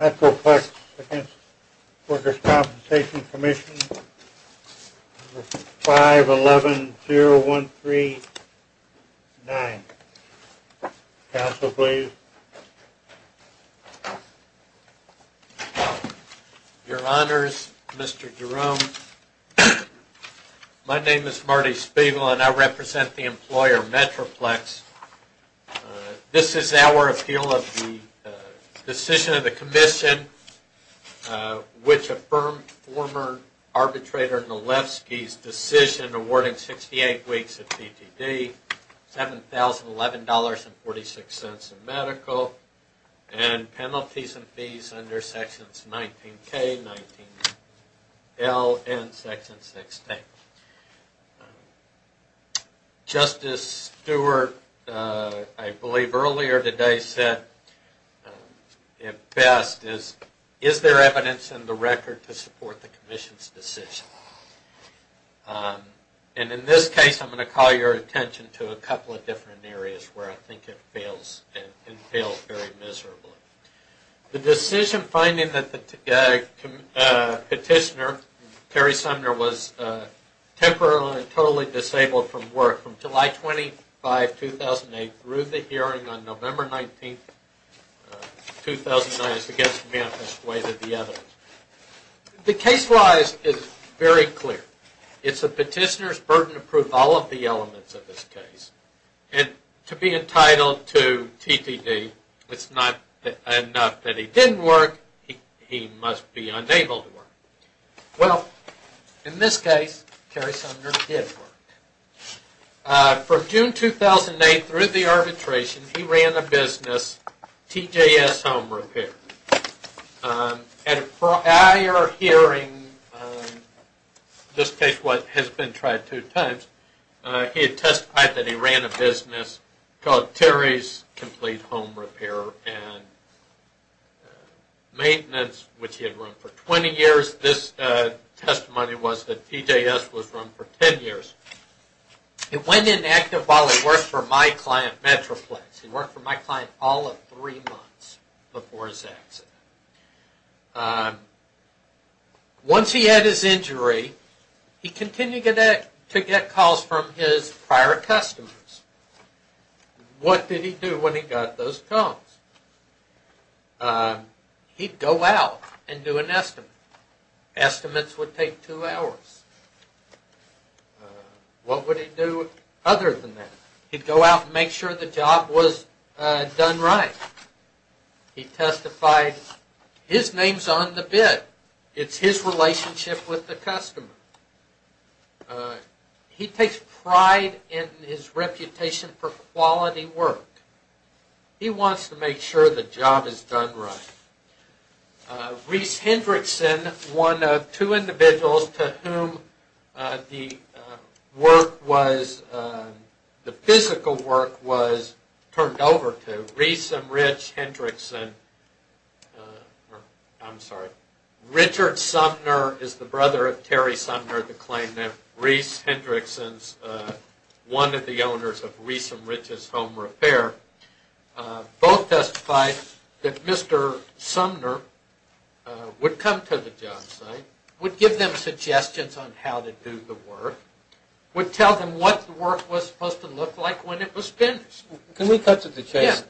Metroplex v. Workers' Compensation Comm' 5110139. Counsel, please. Your Honors, Mr. Jerome, my name is Marty Spiegel and I represent the employer Metroplex. This is our appeal of the decision of the Commission which affirmed former arbitrator Nalewski's decision awarding 68 weeks of PTD, $7,011.46 in medical, and penalties and fees under sections 19K, 19L, and section 16. Justice Stewart, I believe, earlier today said, at best, is there evidence in the record to support the Commission's decision? And in this case, I'm going to call your attention to a couple of different areas where I think it fails, and it fails very miserably. The decision finding that the petitioner, Terry Sumner, was temporarily and totally disabled from work from July 25, 2008, through the hearing on November 19, 2009, is against the manifest way that the evidence. The case-wise is very clear. It's the petitioner's burden to prove all of the elements of this case. And to be entitled to TTD, it's not enough that he didn't work, he must be unable to work. Well, in this case, Terry Sumner did work. From June 2008 through the arbitration, he ran a business, TJS Home Repair. At a prior hearing, this case has been tried two times, he testified that he ran a business called Terry's Complete Home Repair and Maintenance, which he had run for 20 years. This testimony was that TJS was run for 10 years. He went in active while he worked for my client, Metroplex. He worked for my client all of three months before his accident. Once he had his injury, he continued to get calls from his prior customers. What did he do when he got those calls? He'd go out and do an estimate. Estimates would take two hours. What would he do other than that? He'd go out and make sure the job was done right. He testified, his name's on the bid. It's his relationship with the customer. He takes pride in his reputation for quality work. He wants to make sure the job is done right. Rhys Hendrickson, one of two individuals to whom the work was, the physical work was turned over to, Rhys and Rich Hendrickson, I'm sorry, Richard Sumner is the brother of Terry Sumner. Rhys Hendrickson, one of the owners of Rhys and Rich's Home Repair, both testified that Mr. Sumner would come to the job site, would give them suggestions on how to do the work, would tell them what the work was supposed to look like when it was finished. Can we cut to the chase?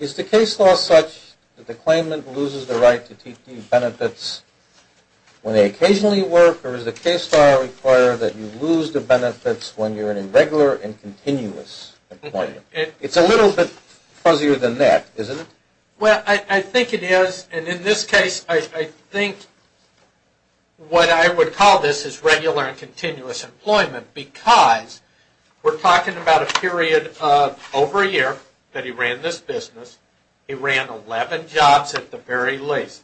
Is the case law such that the claimant loses the right to TTE benefits when they occasionally work, or is the case law required that you lose the benefits when you're in regular and continuous employment? It's a little bit fuzzier than that, isn't it? Well, I think it is, and in this case, I think what I would call this is regular and continuous employment because we're talking about a period of over a year that he ran this business. He ran 11 jobs at the very least.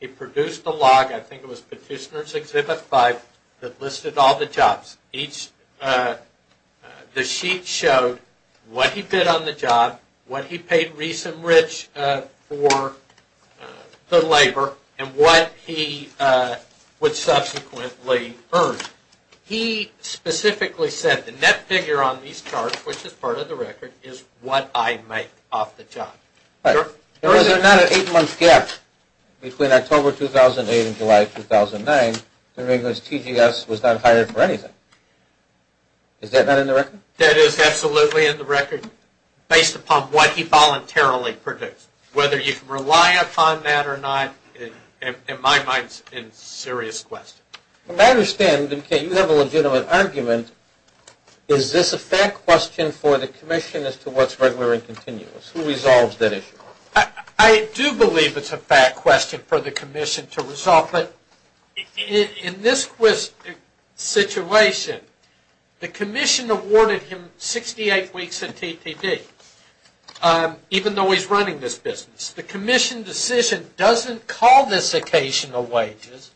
He produced a log, I think it was Petitioner's Exhibit 5, that listed all the jobs. The sheet showed what he did on the job, what he paid Rhys and Rich for the labor, and what he would subsequently earn. He specifically said the net figure on these charts, which is part of the record, is what I make off the job. There was not an eight-month gap between October 2008 and July 2009. TGS was not hired for anything. Is that not in the record? That is absolutely in the record, based upon what he voluntarily produced. Whether you can rely upon that or not, in my mind, is a serious question. I understand that you have a legitimate argument. Is this a fact question for the Commission as to what's regular and continuous? Who resolves that issue? I do believe it's a fact question for the Commission to resolve, but in this situation, the Commission awarded him 68 weeks of TTD, even though he's running this business. The Commission decision doesn't call this occasional wages.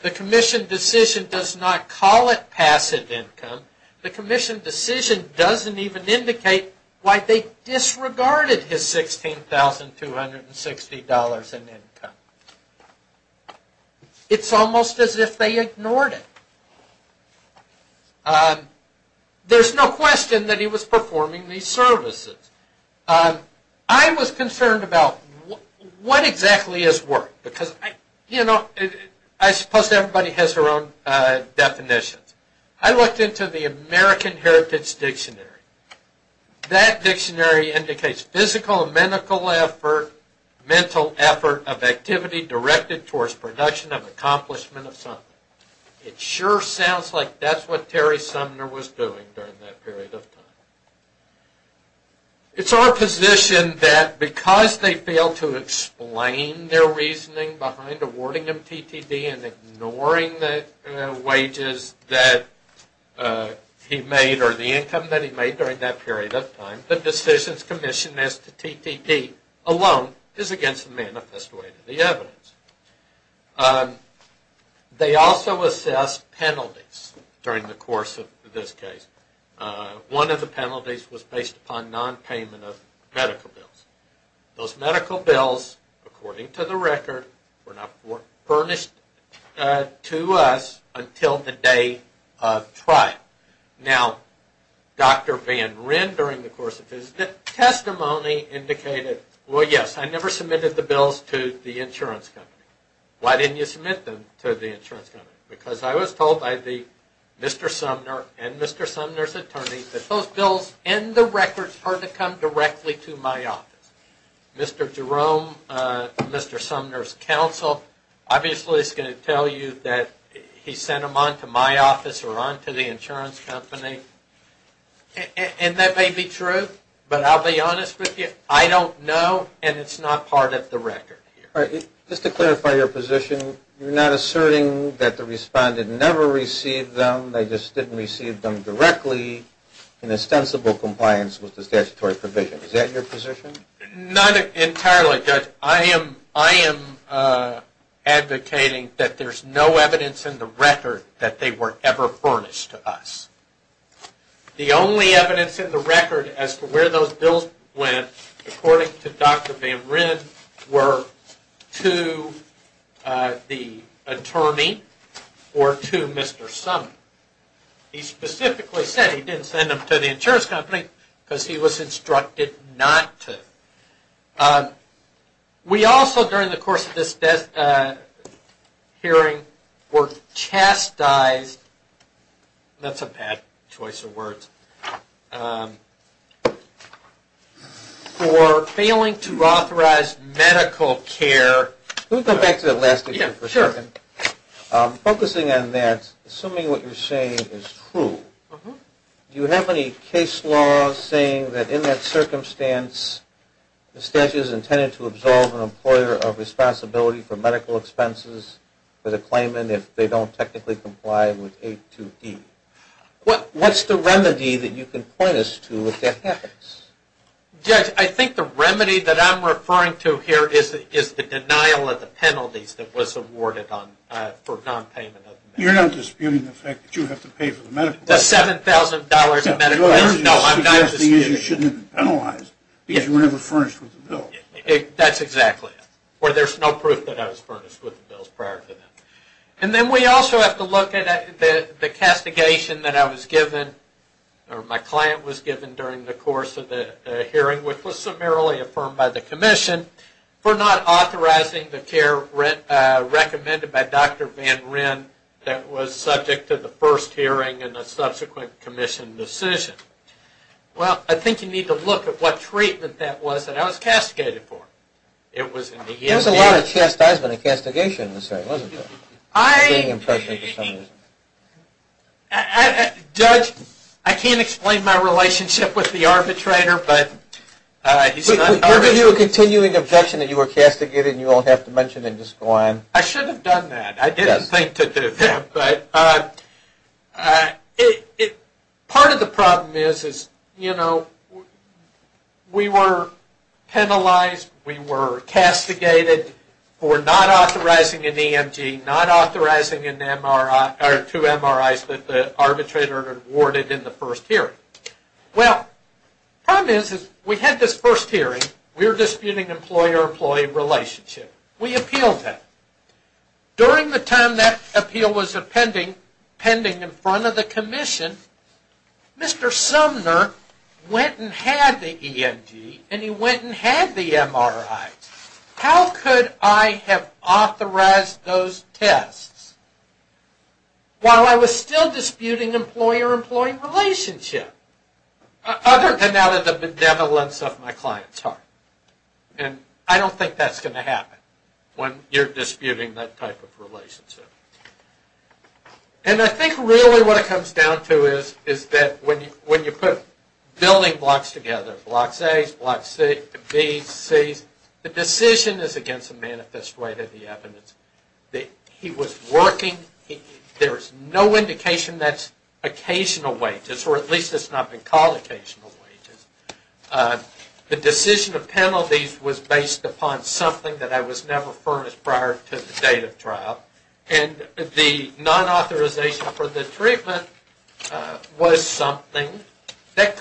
The Commission decision does not call it passive income. The Commission decision doesn't even indicate why they disregarded his $16,260 in income. It's almost as if they ignored it. There's no question that he was performing these services. I was concerned about what exactly is work. I suppose everybody has their own definitions. I looked into the American Heritage Dictionary. That dictionary indicates physical and mental effort of activity directed towards production and accomplishment of something. It sure sounds like that's what Terry Sumner was doing during that period of time. It's our position that because they failed to explain their reasoning behind awarding him TTD and ignoring the wages that he made or the income that he made during that period of time, the decisions commissioned as to TTD alone is against the manifest way to the evidence. They also assessed penalties during the course of this case. One of the penalties was based upon non-payment of medical bills. Those medical bills, according to the record, were not furnished to us until the day of trial. Now, Dr. Van Ryn during the course of his testimony indicated, well, yes, I never submitted the bills to the insurance company. Why didn't you submit them to the insurance company? Because I was told by Mr. Sumner and Mr. Sumner's attorney that those bills and the records are to come directly to my office. Mr. Jerome, Mr. Sumner's counsel, obviously is going to tell you that he sent them on to my office or on to the insurance company. And that may be true, but I'll be honest with you, I don't know and it's not part of the record. All right. Just to clarify your position, you're not asserting that the respondent never received them, they just didn't receive them directly in ostensible compliance with the statutory provision. Is that your position? Not entirely, Judge. I am advocating that there's no evidence in the record that they were ever furnished to us. The only evidence in the record as to where those bills went, according to Dr. Van Ryn, were to the attorney or to Mr. Sumner. He specifically said he didn't send them to the insurance company because he was instructed not to. We also, during the course of this hearing, were chastised, that's a bad choice of words, for failing to authorize medical care. Let me go back to that last issue for a second. Focusing on that, assuming what you're saying is true, do you have any case law saying that in that circumstance the statute is intended to absolve an employer of responsibility for medical expenses for the claimant if they don't technically comply with 8.2.E? What's the remedy that you can point us to if that happens? Judge, I think the remedy that I'm referring to here is the denial of the penalties that was awarded for nonpayment of the medical bills. You're not disputing the fact that you have to pay for the medical bills? The $7,000 of medical bills? No, I'm not disputing that. You're suggesting that you shouldn't penalize because you were never furnished with the bills. That's exactly it, or there's no proof that I was furnished with the bills prior to that. And then we also have to look at the castigation that I was given, or my client was given during the course of the hearing, which was summarily affirmed by the commission for not authorizing the care recommended by Dr. Van Wren that was subject to the first hearing and the subsequent commission decision. Well, I think you need to look at what treatment that was that I was castigated for. There was a lot of chastisement and castigation in this case, wasn't there? I can't explain my relationship with the arbitrator, but he's not an arbitrator. Were you a continuing objection that you were castigated and you don't have to mention and decline? I should have done that. I didn't think to do that. Part of the problem is we were penalized, we were castigated for not authorizing an EMG, not authorizing two MRIs that the arbitrator had awarded in the first hearing. Well, the problem is we had this first hearing. We were disputing employer-employee relationship. We appealed that. During the time that appeal was pending in front of the commission, Mr. Sumner went and had the EMG and he went and had the MRI. How could I have authorized those tests while I was still disputing employer-employee relationship, other than out of the benevolence of my client's heart? And I don't think that's going to happen when you're disputing that type of relationship. And I think really what it comes down to is that when you put building blocks together, blocks A's, blocks B's, C's, the decision is against the manifest way that he was working. There's no indication that's occasional wages, or at least it's not been called occasional wages. The decision of penalties was based upon something that I was never furnished prior to the date of trial. And the non-authorization for the treatment was something that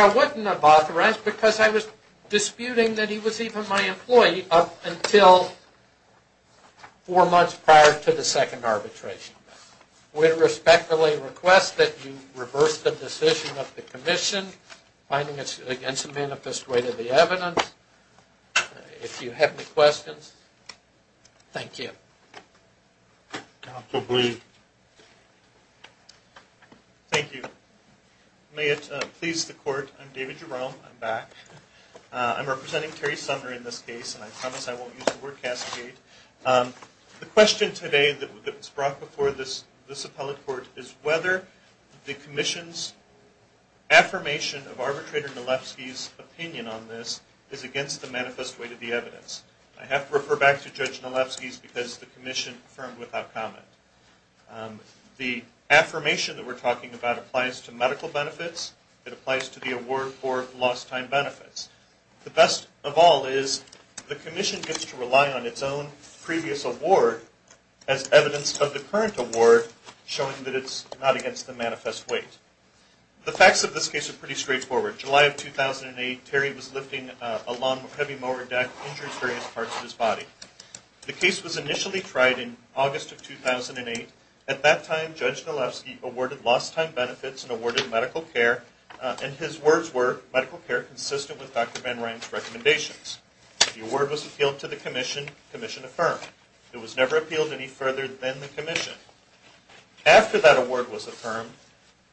I wouldn't have authorized because I was disputing that he was even my employee up until four months prior to the second arbitration. We respectfully request that you reverse the decision of the commission finding it's against the manifest way to the evidence. If you have any questions, thank you. Counsel, please. Thank you. May it please the court, I'm David Jerome, I'm back. I'm representing Terry Sumner in this case, and I promise I won't use the word cascade. The question today that was brought before this appellate court is whether the commission's affirmation of Arbitrator Nalewski's opinion on this is against the manifest way to the evidence. I have to refer back to Judge Nalewski's because the commission affirmed without comment. The affirmation that we're talking about applies to medical benefits, it applies to the award for lost time benefits. The best of all is the commission gets to rely on its own previous award as evidence of the current award showing that it's not against the manifest way. The facts of this case are pretty straightforward. July of 2008, Terry was lifting a lawn heavy mower deck, injuring various parts of his body. The case was initially tried in August of 2008. At that time, Judge Nalewski awarded lost time benefits and awarded medical care, and his words were, medical care consistent with Dr. Van Ryn's recommendations. The award was appealed to the commission, commission affirmed. It was never appealed any further than the commission. After that award was affirmed,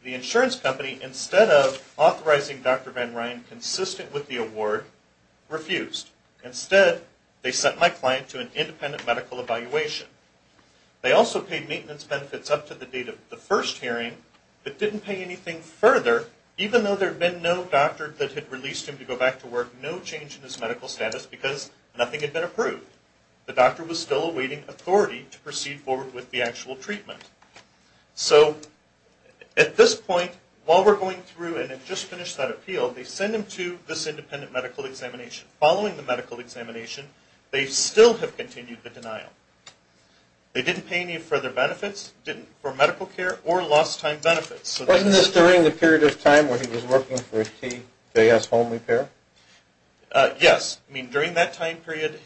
the insurance company, instead of authorizing Dr. Van Ryn consistent with the award, refused. Instead, they sent my client to an independent medical evaluation. They also paid maintenance benefits up to the date of the first hearing, but didn't pay anything further. Even though there had been no doctor that had released him to go back to work, no change in his medical status because nothing had been approved. The doctor was still awaiting authority to proceed forward with the actual treatment. So, at this point, while we're going through and have just finished that appeal, they send him to this independent medical examination. Following the medical examination, they still have continued the denial. They didn't pay any further benefits for medical care or lost time benefits. Wasn't this during the period of time where he was working for TKS Home Repair? Yes. I mean, during that time period,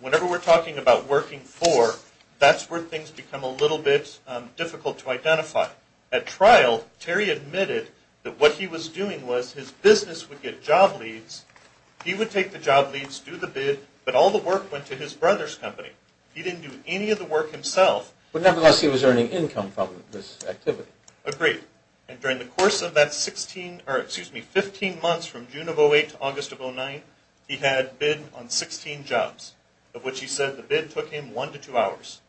whenever we're talking about working for, that's where things become a little bit difficult to identify. At trial, Terry admitted that what he was doing was his business would get job leads. He would take the job leads, do the bid, but all the work went to his brother's company. He didn't do any of the work himself. But nevertheless, he was earning income from this activity. Agreed. And during the course of that 15 months from June of 2008 to August of 2009, he had bid on 16 jobs, of which he said the bid took him 1 to 2 hours.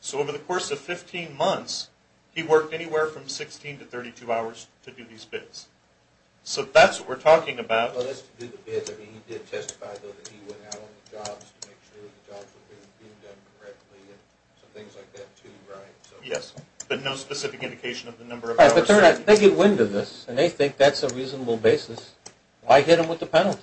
So, over the course of 15 months, he worked anywhere from 16 to 32 hours to do these bids. So that's what we're talking about. Well, as to do the bids, I mean, he did testify, though, that he went out on the jobs to make sure the jobs were being done correctly and some things like that, too, right? Yes. But no specific indication of the number of hours. Right. But they get wind of this, and they think that's a reasonable basis. Why hit them with the penalty?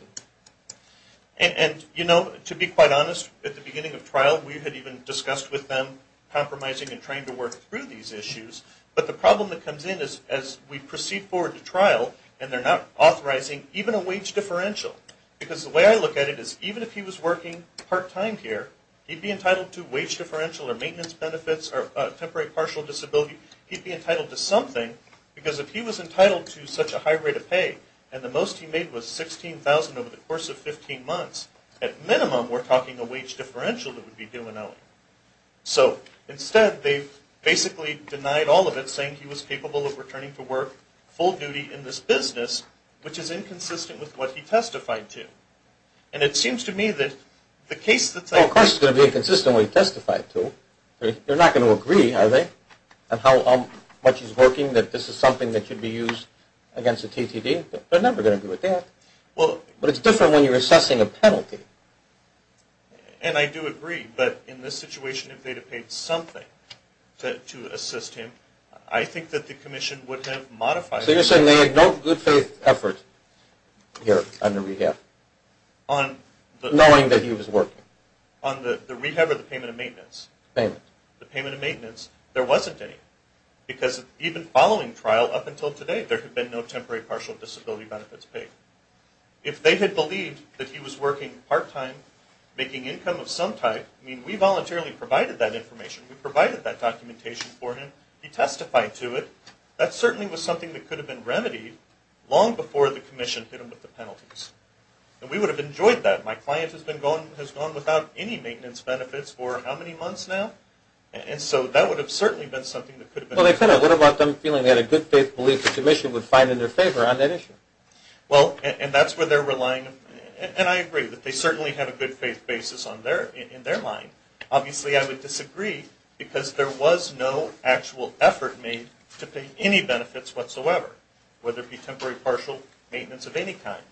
And, you know, to be quite honest, at the beginning of trial, we had even discussed with them compromising and trying to work through these issues. But the problem that comes in is, as we proceed forward to trial, and they're not authorizing even a wage differential. Because the way I look at it is, even if he was working part-time here, he'd be entitled to wage differential or maintenance benefits or temporary partial disability. He'd be entitled to something. Because if he was entitled to such a high rate of pay, and the most he made was $16,000 over the course of 15 months, at minimum, we're talking a wage differential that would be due in OE. So instead, they've basically denied all of it, saying he was capable of returning to work full duty in this business, which is inconsistent with what he testified to. And it seems to me that the case that's... Well, of course it's going to be inconsistent with what he testified to. They're not going to agree, are they, on how much he's working, that this is something that should be used against the TTD? They're never going to agree with that. But it's different when you're assessing a penalty. And I do agree. But in this situation, if they'd have paid something to assist him, I think that the commission would have modified... So you're saying they had no good faith effort here under rehab, knowing that he was working? On the rehab or the payment of maintenance? Payment. The payment of maintenance, there wasn't any. Because even following trial, up until today, there had been no temporary partial disability benefits paid. If they had believed that he was working part-time, making income of some type, I mean, we voluntarily provided that information. We provided that documentation for him. He testified to it. That certainly was something that could have been remedied long before the commission hit him with the penalties. And we would have enjoyed that. My client has gone without any maintenance benefits for how many months now? And so that would have certainly been something that could have been remedied. Well, what about them feeling they had a good faith belief the commission would find in their favor on that issue? Well, and that's where they're relying. And I agree that they certainly have a good faith basis in their mind. Obviously, I would disagree, because there was no actual effort made to pay any benefits whatsoever, whether it be temporary partial, maintenance of any kind.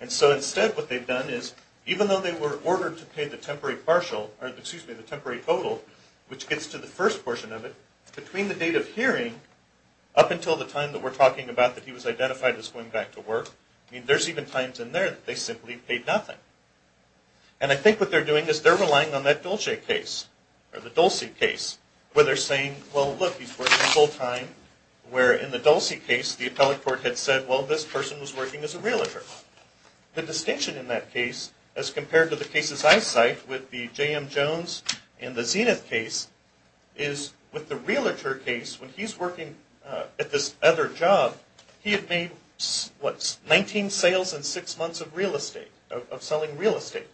And so instead, what they've done is, even though they were ordered to pay the temporary partial, or excuse me, the temporary total, which gets to the first portion of it, between the date of hearing up until the time that we're talking about that he was identified as going back to work, I mean, there's even times in there that they simply paid nothing. And I think what they're doing is they're relying on that Dolce case, or the Dolce case, where they're saying, well, look, he's working full-time, where in the Dolce case the appellate court had said, well, this person was working as a realtor. The distinction in that case, as compared to the cases I cite with the J.M. Jones and the Zenith case, is with the realtor case, when he's working at this other job, he had made, what, 19 sales in six months of real estate, of selling real estate.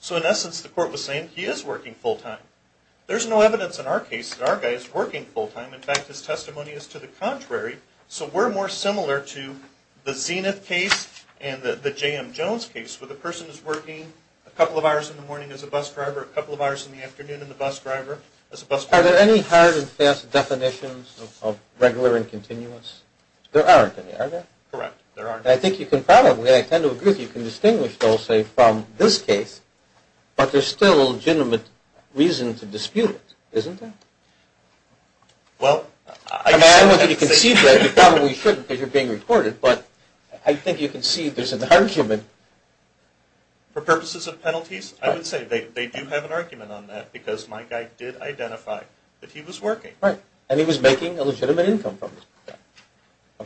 So in essence, the court was saying, he is working full-time. There's no evidence in our case that our guy is working full-time. In fact, his testimony is to the contrary. So we're more similar to the Zenith case and the J.M. Jones case, where the person is working a couple of hours in the morning as a bus driver, or a couple of hours in the afternoon as a bus driver. Are there any hard and fast definitions of regular and continuous? There aren't any, are there? Correct, there aren't any. I think you can probably, I tend to agree with you, can distinguish Dolce from this case, but there's still a legitimate reason to dispute it, isn't there? Well, I... I want you to concede that you probably shouldn't because you're being reported, but I think you can see there's an argument. For purposes of penalties, I would say they do have an argument on that because my guy did identify that he was working. Right, and he was making a legitimate income from it.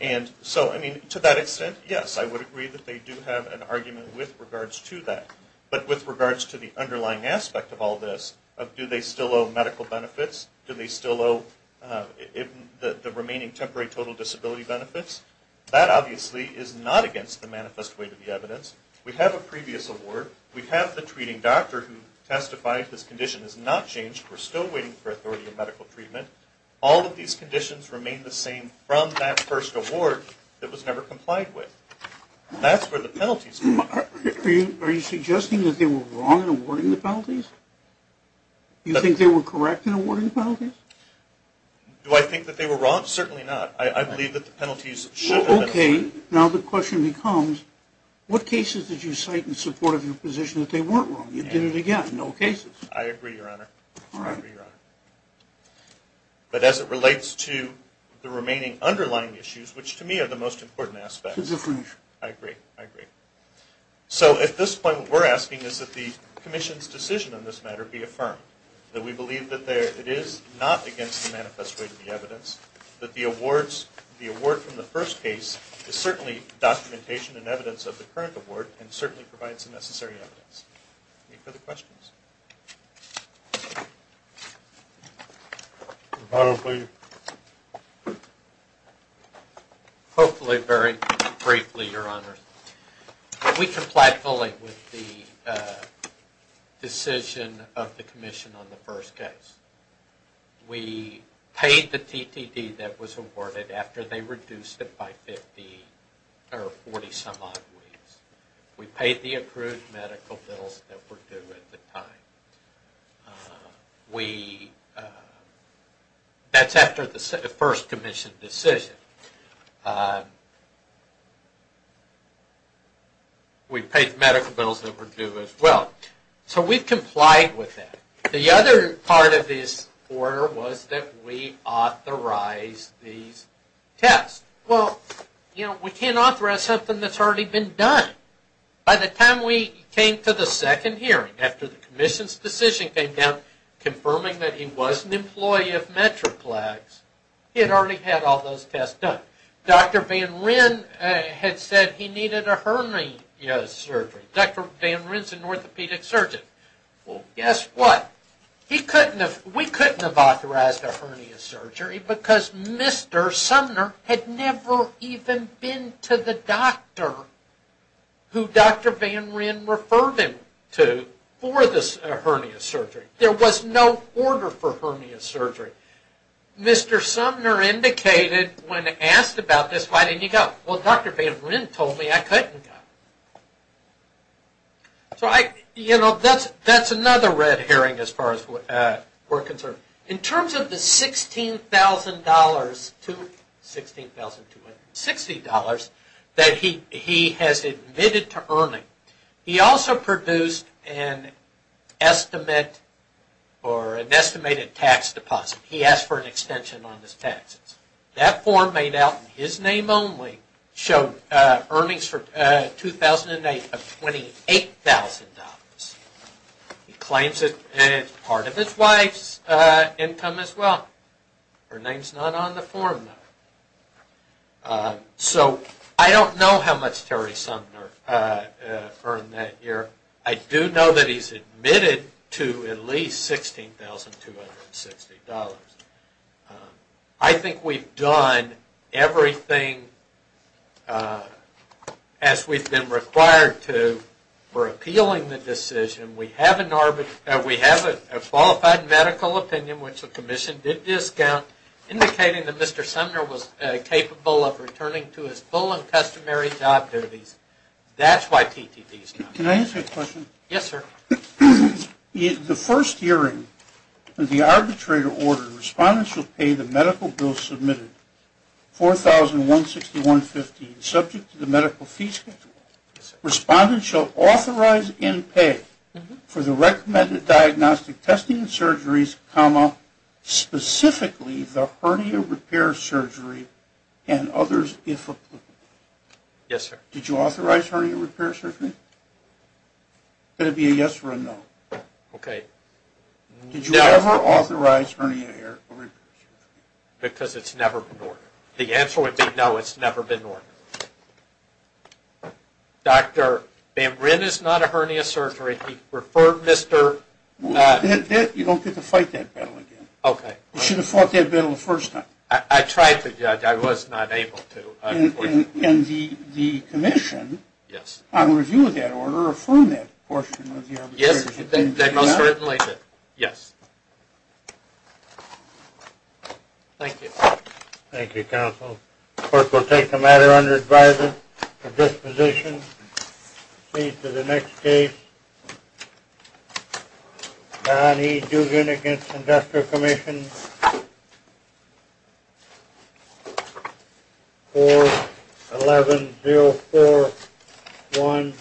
And so, I mean, to that extent, yes, I would agree that they do have an argument with regards to that. But with regards to the underlying aspect of all this, do they still owe medical benefits? Do they still owe the remaining temporary total disability benefits? That, obviously, is not against the manifest way to the evidence. We have a previous award. We have the treating doctor who testified this condition has not changed. We're still waiting for authority of medical treatment. All of these conditions remain the same from that first award that was never complied with. That's where the penalties come in. Are you suggesting that they were wrong in awarding the penalties? Do you think they were correct in awarding the penalties? Do I think that they were wrong? Certainly not. I believe that the penalties should have been. Okay, now the question becomes, what cases did you cite in support of your position that they weren't wrong? You did it again. No cases. I agree, Your Honor. All right. But as it relates to the remaining underlying issues, which to me are the most important aspects. It's a different issue. I agree. I agree. So at this point, what we're asking is that the commission's decision on this matter be affirmed, that we believe that it is not against the manifest way to the evidence, that the award from the first case is certainly documentation and evidence of the current award and certainly provides the necessary evidence. Any further questions? Your Honor, please. Hopefully very briefly, Your Honor. We complied fully with the decision of the commission on the first case. We paid the TTD that was awarded after they reduced it by 50 or 40 some odd weeks. We paid the accrued medical bills that were due at the time. That's after the first commission decision. We paid medical bills that were due as well. So we've complied with that. The other part of this order was that we authorize these tests. Well, you know, we can't authorize something that's already been done. By the time we came to the second hearing, after the commission's decision came down confirming that he was an employee of Metroplex, he had already had all those tests done. Dr. Van Ryn had said he needed a hernia surgery. Dr. Van Ryn is an orthopedic surgeon. Well, guess what? We couldn't have authorized a hernia surgery because Mr. Sumner had never even been to the doctor who Dr. Van Ryn referred him to for this hernia surgery. There was no order for hernia surgery. Mr. Sumner indicated when asked about this, why didn't you go? Well, Dr. Van Ryn told me I couldn't go. So, you know, that's another red herring as far as we're concerned. In terms of the $16,260 that he has admitted to earning, he also produced an estimated tax deposit. He asked for an extension on his taxes. That form made out in his name only showed earnings for 2008 of $28,000. He claims it's part of his wife's income as well. Her name's not on the form, though. So I don't know how much Terry Sumner earned that year. I do know that he's admitted to at least $16,260. I think we've done everything as we've been required to for appealing the decision. We have a qualified medical opinion, which the commission did discount, indicating that Mr. Sumner was capable of returning to his full and customary job duties. That's why TTD is not. Can I ask you a question? Yes, sir. In the first hearing of the arbitrator order, respondents shall pay the medical bill submitted, 4,161.15, subject to the medical fee schedule. Respondents shall authorize in pay for the recommended diagnostic testing and surgeries, comma, specifically the hernia repair surgery and others if applicable. Yes, sir. Did you authorize hernia repair surgery? Could it be a yes or a no? Okay. Did you ever authorize hernia repair surgery? Because it's never been ordered. The answer would be no, it's never been ordered. Dr. Bambrin is not a hernia surgery. He referred Mr.… You don't get to fight that battle again. Okay. You should have fought that battle the first time. I tried to, Judge. I was not able to. In the commission, on review of that order, affirm that portion of the arbitration. Yes. That must be written like that. Yes. Thank you. Thank you, counsel. The court will take the matter under advisory for disposition. Please to the next case. Donny Dugan against Industrial Commission. 4-1104-1.